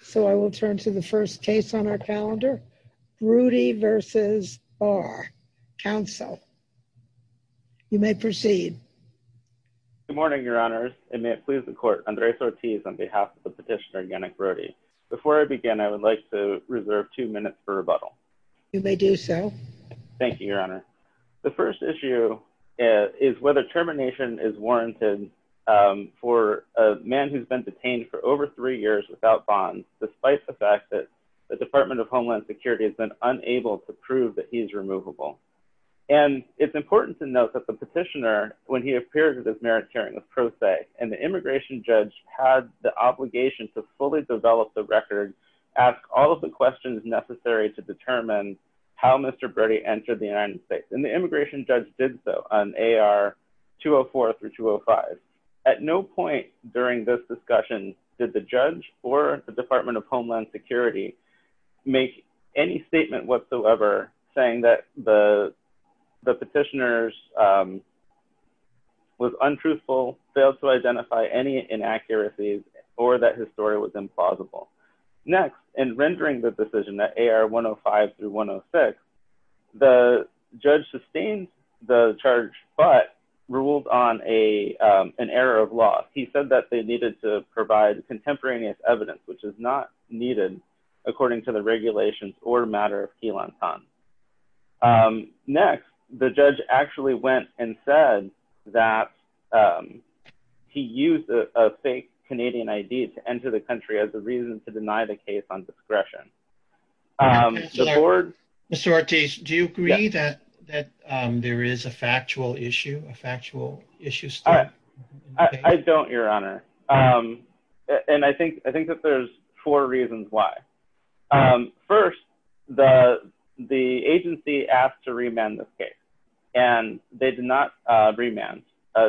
So I will turn to the first case on our calendar, Brudy v. Barr. Counsel, you may proceed. Good morning, Your Honors, and may it please the Court, Andres Ortiz on behalf of the petitioner Yannick Brudy. Before I begin, I would like to reserve two minutes for rebuttal. You may do so. Thank you, Your Honor. The first issue is whether termination is warranted for a man who has been detained for over three years without bonds, despite the fact that the Department of Homeland Security has been unable to prove that he is removable. And it's important to note that the petitioner, when he appeared at his merit hearing, was pro se, and the immigration judge had the obligation to fully develop the record, ask all of the questions necessary to determine how Mr. Brudy entered the United States. And the immigration judge did so on AR 204 through 205. At no point during this discussion did the judge or the Department of Homeland Security make any statement whatsoever saying that the petitioner was untruthful, failed to identify any inaccuracies, or that his story was implausible. Next, in rendering the decision that AR 105 through 106, the judge sustained the charge, but ruled on an error of law. He said that they needed to provide contemporaneous evidence, which is not needed according to the regulations or matter of key lantan. Next, the judge actually went and said that he used a fake Canadian ID to enter the country as reason to deny the case on discretion. Mr. Ortiz, do you agree that there is a factual issue, a factual issue? I don't, your honor. And I think that there's four reasons why. First, the agency asked to remand this case, and they did not remand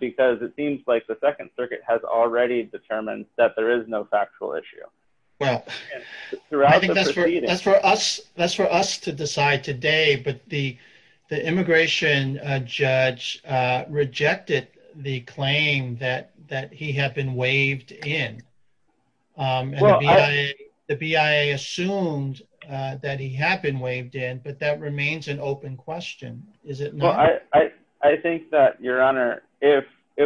because it seems like second circuit has already determined that there is no factual issue. Well, I think that's for us, that's for us to decide today, but the immigration judge rejected the claim that he had been waived in. The BIA assumed that he had been waived in, but that remains an open question, is it not? I think that, your honor, if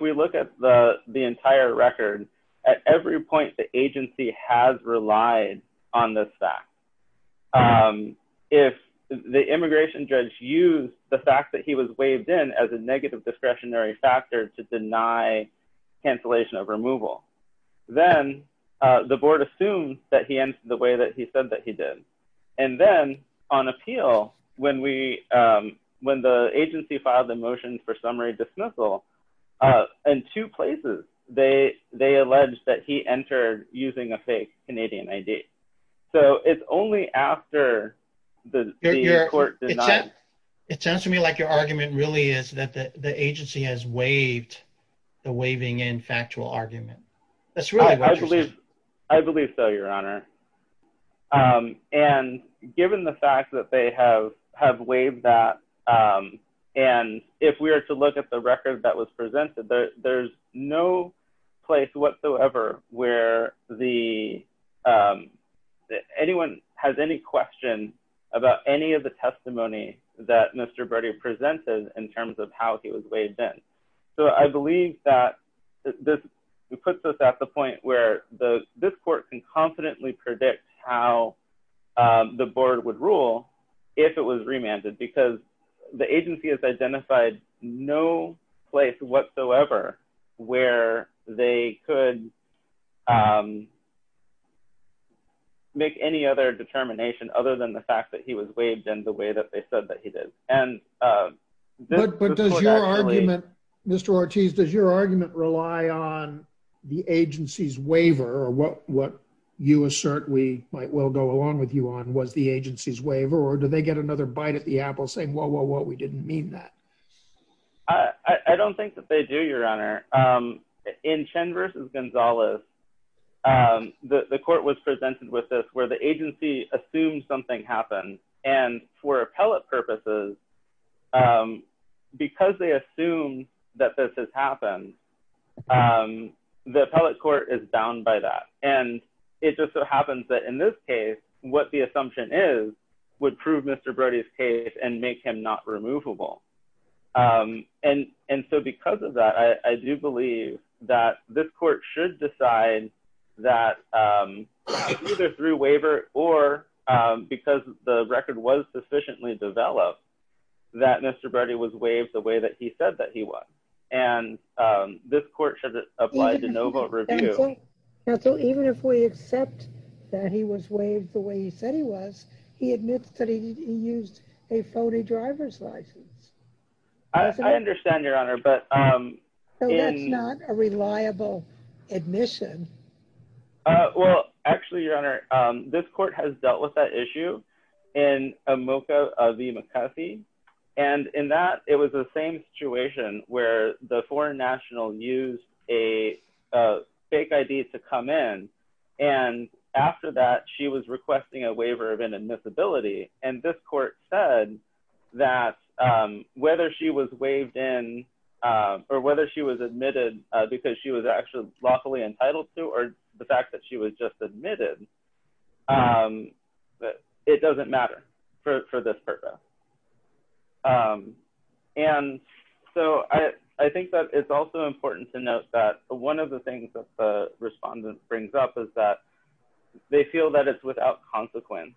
we look at the entire record, at every point, the agency has relied on this fact. If the immigration judge used the fact that he was waived in as a negative discretionary factor to deny cancellation of removal, then the board assumes that he filed the motion for summary dismissal in two places. They alleged that he entered using a fake Canadian ID. So it's only after the court denied- It sounds to me like your argument really is that the agency has waived the waiving in factual argument. That's really what you're saying. I believe so, your honor. And given the fact that they have waived that, and if we were to look at the record that was presented, there's no place whatsoever where anyone has any question about any of the testimony that Mr. Brady presented in terms of how he was waived in. So I believe that this puts us at the point where this court can confidently predict how the board would rule if it was remanded, because the agency has identified no place whatsoever where they could make any other determination other than the fact that he was waived in the way that they said that he did. But does your argument, Mr. Ortiz, does your argument rely on the agency's waiver or what you assert we might well go along with you on was the agency's waiver or do they get another bite at the apple saying, well, we didn't mean that? I don't think that they do, your honor. In Chen versus Gonzalez, the court was presented with this where the agency assumed something happened. And for appellate purposes, because they assume that this has happened, the appellate court is bound by that. And it just so happens that in this case, what the assumption is would prove Mr. Brady's case and make him not or because the record was sufficiently developed that Mr. Brady was waived the way that he said that he was. And this court should apply to no vote review. So even if we accept that he was waived the way he said he was, he admits that he used a phony driver's license. I understand, your honor, but it's not a reliable admission. Well, actually, your honor, this court has dealt with that issue in a mocha of the McCarthy. And in that it was the same situation where the foreign national used a fake ID to come in. And after that, she was requesting a waiver of admissibility. And this court said that whether she was waived in or whether she was admitted because she was actually lawfully entitled to or the fact that she was just admitted, it doesn't matter for this purpose. And so I think that it's also important to note that one of the things that the respondent brings up is that they feel that it's without consequence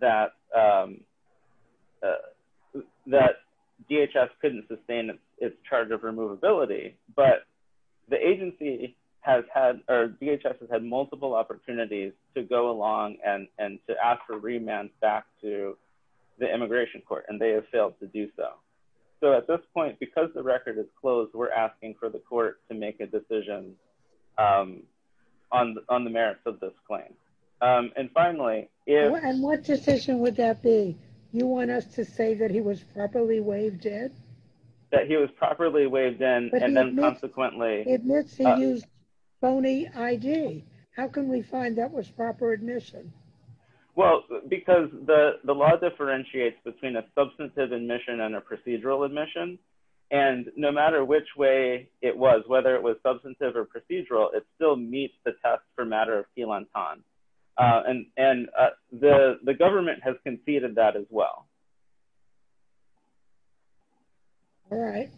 that DHS couldn't sustain its charge of removability. But the agency has had, or DHS has had multiple opportunities to go along and to ask for remands back to the immigration court, and they have failed to do so. So at this point, because the record is closed, we're asking for the be. You want us to say that he was properly waived in? That he was properly waived in, and then consequently, he used phony ID. How can we find that was proper admission? Well, because the law differentiates between a substantive admission and a procedural admission. And no matter which way it was, whether it was substantive or procedural, it still meets the test for matter of quelan ton. And the government has conceded that as well. All right.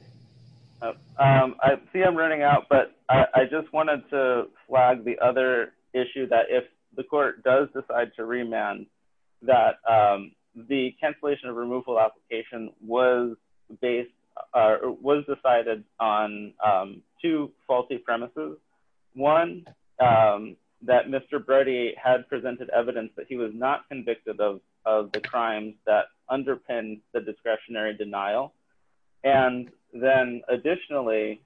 I see I'm running out, but I just wanted to flag the other issue that if the court does decide to remand, that the cancellation of removal application was decided on two faulty premises. One, that Mr. Brody had presented evidence that he was not convicted of the crimes that underpinned the discretionary denial. And then additionally,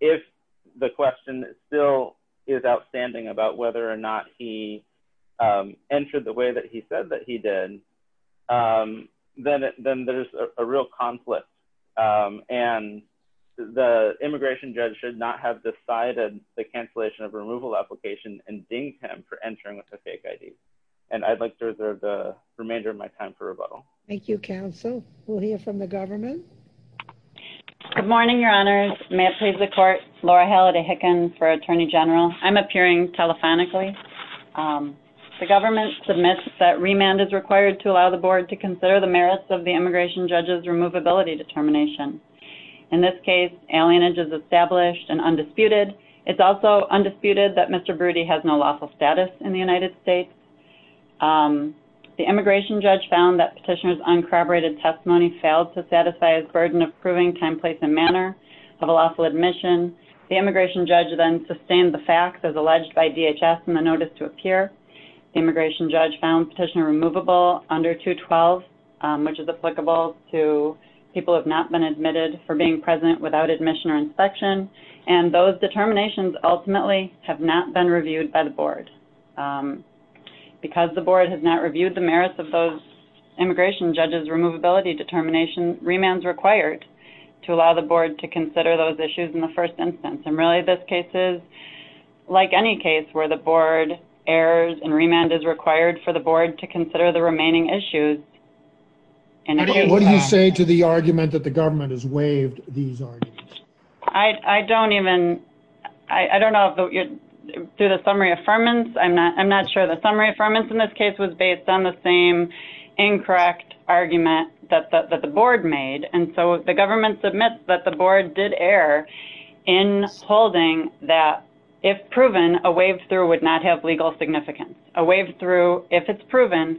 if the question still is outstanding about whether or not he entered the way that he said that he did, then there's a real conflict. And the immigration judge should not have decided the cancellation of removal application and dinged him for entering with a fake ID. And I'd like to reserve the remainder of my time for rebuttal. Thank you, counsel. We'll hear from the government. Good morning, your honors. May it please the court. Laura Halliday Hicken for Attorney General. I'm consider the merits of the immigration judge's removability determination. In this case, alienage is established and undisputed. It's also undisputed that Mr. Brody has no lawful status in the United States. The immigration judge found that petitioner's uncorroborated testimony failed to satisfy his burden of proving time, place, and manner of a lawful admission. The immigration judge then sustained the facts as alleged by DHS in the notice to appear. The immigration judge found petitioner removable under 212, which is applicable to people who have not been admitted for being present without admission or inspection. And those determinations ultimately have not been reviewed by the board. Because the board has not reviewed the merits of those immigration judge's removability determination, remand is required to allow the board to consider those issues in the first instance. And really, this case is like any case where the board errors and remand is to consider the remaining issues. What do you say to the argument that the government has waived these arguments? I don't even, I don't know if, through the summary affirmance, I'm not sure the summary affirmance in this case was based on the same incorrect argument that the board made. And so the government submits that the board did err in holding that if proven, a waived through would not have legal significance. A waived through, if it's proven,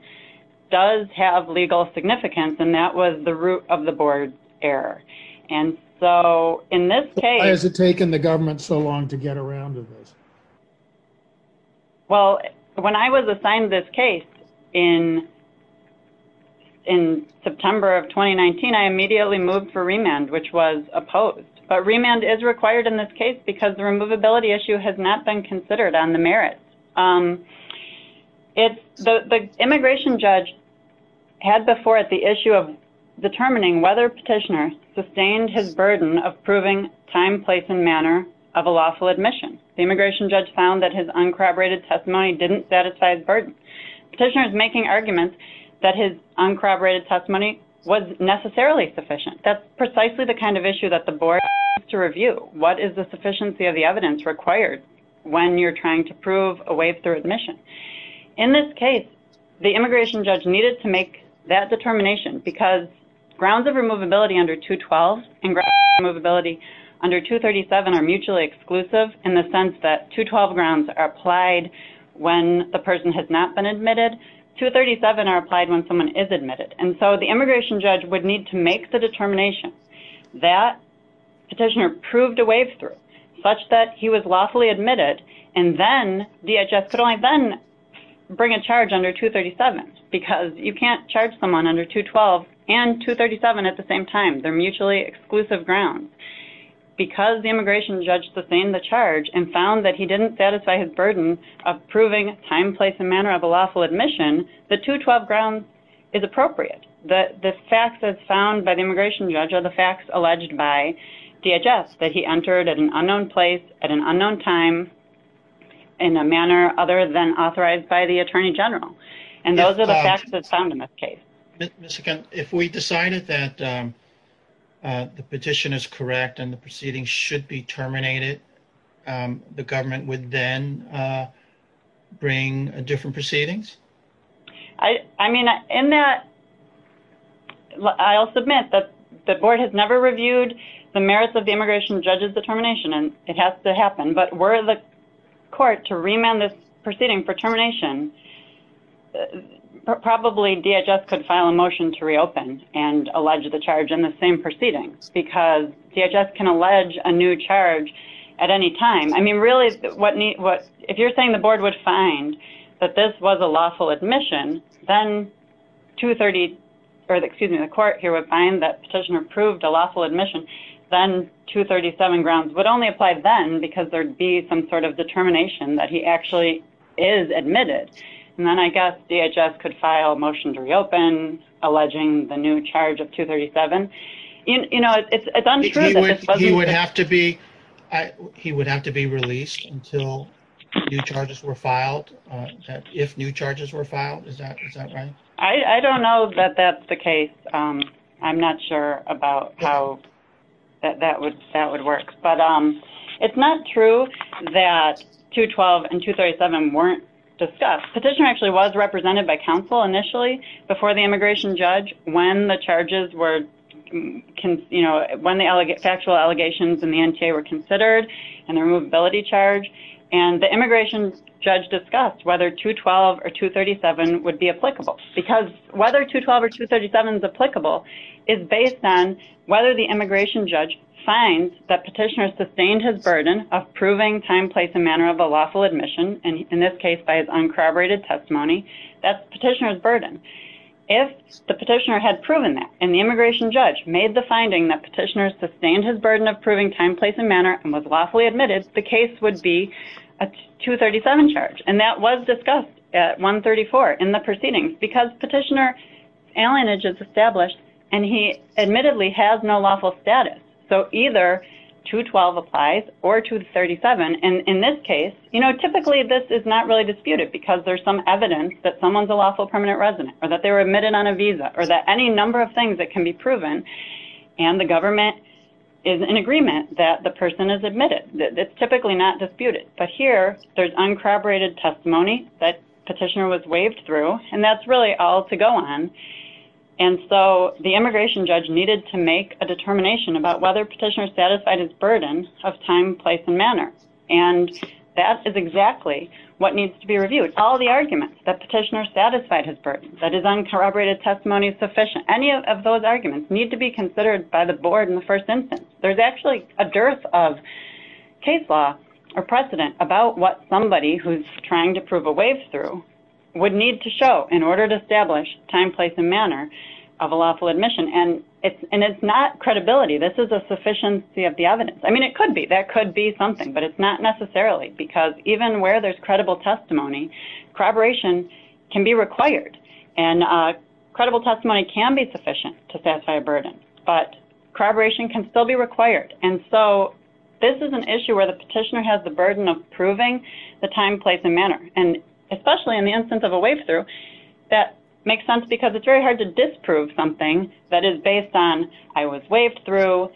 does have legal significance. And that was the root of the board's error. And so in this case... Why has it taken the government so long to get around to this? Well, when I was assigned this case in September of 2019, I immediately moved for remand, which was opposed. But remand is required in this case because the immigration judge had before it the issue of determining whether petitioner sustained his burden of proving time, place, and manner of a lawful admission. The immigration judge found that his uncorroborated testimony didn't satisfy his burden. Petitioner is making arguments that his uncorroborated testimony was necessarily sufficient. That's precisely the kind of issue that the board needs to review. What is the sufficiency of the evidence required when you're trying to prove a waived through admission? In this case, the immigration judge needed to make that determination because grounds of removability under 212 and grounds of removability under 237 are mutually exclusive in the sense that 212 grounds are applied when the person has not been admitted. 237 are applied when someone is admitted. And so the immigration judge would need to make the determination that petitioner proved a waived through such that he was lawfully admitted and then DHS could only then bring a charge under 237 because you can't charge someone under 212 and 237 at the same time. They're mutually exclusive grounds. Because the immigration judge sustained the charge and found that he didn't satisfy his burden of proving time, place, and manner of a lawful admission, the 212 grounds is appropriate. The facts that's found by the immigration judge are the facts alleged by DHS that he entered at an unknown place at an unknown time in a manner other than authorized by the Attorney General. And those are the facts that's found in this case. Ms. Hicken, if we decided that the petition is correct and the proceedings should be terminated, the government would then bring different proceedings? I mean, in that, I'll submit that the board has never reviewed the merits of the immigration judge's determination and it has to happen. But were the court to remand this proceeding for termination, probably DHS could file a motion to reopen and allege the charge in the same proceedings because DHS can allege a new charge at any time. I mean, really, if you're saying the board would find that this was a lawful admission, then 230, or excuse me, the court here would find that 237 grounds would only apply then because there'd be some sort of determination that he actually is admitted. And then I guess DHS could file a motion to reopen alleging the new charge of 237. You know, it's untrue. He would have to be released until new charges were filed, if new charges were filed. Is that right? I don't know that that's the case. I'm not sure about how that would work. But it's not true that 212 and 237 weren't discussed. Petitioner actually was represented by counsel initially before the immigration judge when the charges were, you know, when the factual allegations in the NTA were considered and the removability charge. And the immigration judge discussed whether 212 or 237 would be applicable. Because whether 212 or 237 is applicable is based on whether the immigration judge finds that petitioner sustained his burden of proving time, place, and manner of a lawful admission. And in this case, by his uncorroborated testimony, that's petitioner's burden. If the petitioner had proven that and the immigration judge made the finding that petitioner sustained his burden of proving time, place, and manner and was lawfully admitted, the case would be a 237 charge. And that was discussed at 134 in the proceedings. Because petitioner's alienage is established and he admittedly has no lawful status. So either 212 applies or 237. And in this case, you know, typically this is not really disputed because there's some evidence that someone's a lawful permanent resident or that they were admitted on a visa or that any number of things that can be proven and the government is in agreement that the person is admitted. It's typically not disputed. But here there's uncorroborated testimony that petitioner was waved through and that's really all to go on. And so the immigration judge needed to make a determination about whether petitioner satisfied his burden of time, place, and manner. And that is exactly what needs to be reviewed. All the arguments that petitioner satisfied his burden, that his uncorroborated testimony is sufficient, any of those arguments need to be considered by the board in the first instance. There's actually a dearth of case law or precedent about what somebody who's trying to prove a wave through would need to show in order to establish time, place, and manner of a lawful admission. And it's not credibility. This is a sufficiency of the evidence. I mean, it could be, that could be something, but it's not necessarily because even where there's credible testimony, corroboration can be required. And credible testimony can be sufficient to satisfy a burden, but corroboration can still be required. And so this is an issue where the petitioner has the burden of proving the time, place, and manner. And especially in the instance of a wave through, that makes sense because it's very hard to disprove something that is based on, I was waved through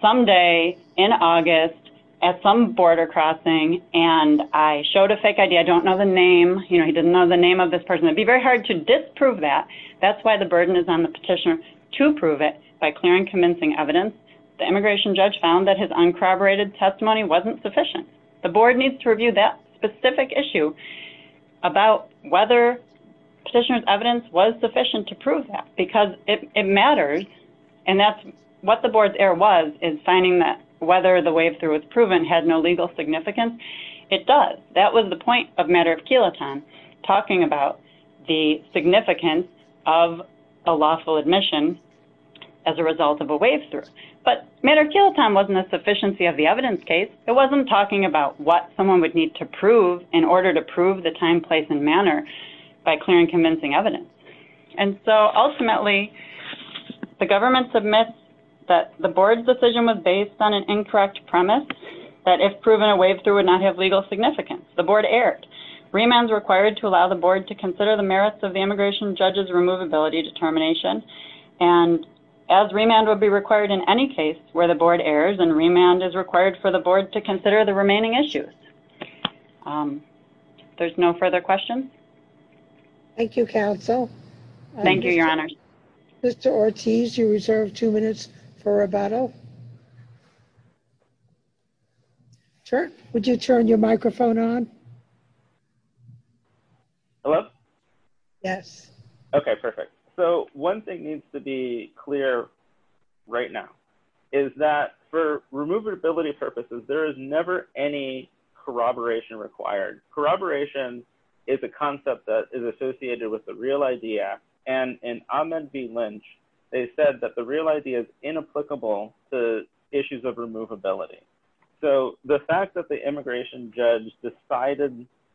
someday in August at some border crossing, and I showed a fake ID. I don't know the name. You know, he didn't know the name of this person. It'd be very hard to disprove that. That's why the burden is on the petitioner to prove it by clearing convincing evidence. The immigration judge found that his uncorroborated testimony wasn't sufficient. The board needs to review that specific issue about whether petitioner's evidence was sufficient to prove that because it matters. And that's what the board's error was, is finding that whether the wave through was proven had no legal significance. It does. That was the point of matter of kiloton, talking about the significance of a lawful admission as a result of a wave through. But matter of kiloton wasn't a sufficiency of the evidence case. It wasn't talking about what someone would need to prove in order to prove the time, place, and manner by clearing convincing evidence. And so ultimately, the government submits that the board's decision was based on an incorrect premise, that if proven, a wave through would not have legal significance. The board erred. Remands required to allow the board to consider the merits of the immigration judge's removability determination. And as remand would be required in any case where the board errs, and remand is required for the board to consider the remaining issues. There's no further questions. Thank you, counsel. Thank you, your honor. Mr. Ortiz, you reserve two minutes for rebuttal. Sure. Would you turn your microphone on? Hello? Yes. Okay, perfect. So one thing needs to be clear right now is that for removability purposes, there is never any corroboration required. Corroboration is a concept that is associated with the real idea. And in Ahmed v. Lynch, they said that the real idea is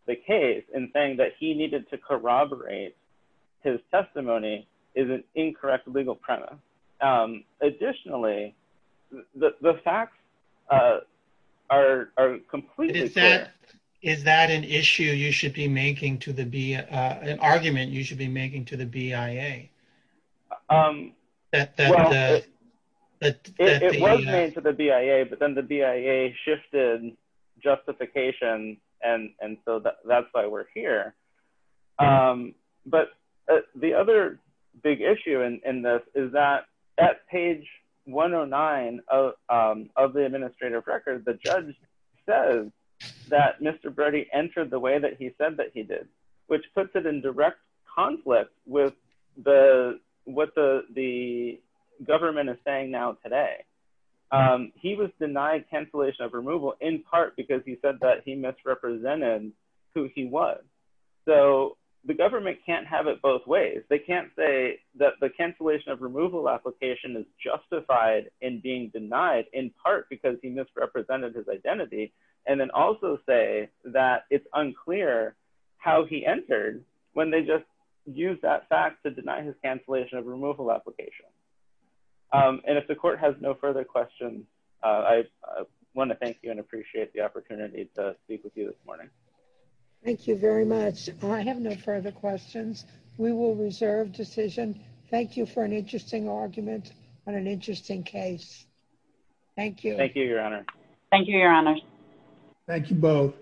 the case, and saying that he needed to corroborate his testimony is an incorrect legal premise. Additionally, the facts are completely clear. Is that an issue you should be making to the BIA, an argument you should be making to the BIA? It was made to the BIA, but then the BIA shifted justification, and so that's why we're here. But the other big issue in this is that at page 109 of the administrative record, the judge says that Mr. Brody entered the way that he said that he did, which puts it in direct conflict with what the government is saying now today. He was denied cancellation of removal in part because he said that he misrepresented who he was. So the government can't have it both ways. They can't say that the cancellation of removal application is justified in being denied in part because he misrepresented his identity, and then also say that it's unclear how he entered when they just used that fact to deny his If the court has no further questions, I want to thank you and appreciate the opportunity to speak with you this morning. Thank you very much. I have no further questions. We will reserve decision. Thank you for an interesting argument on an interesting case. Thank you. Thank you, Your Honor. Thank you, Your Honor. Thank you both.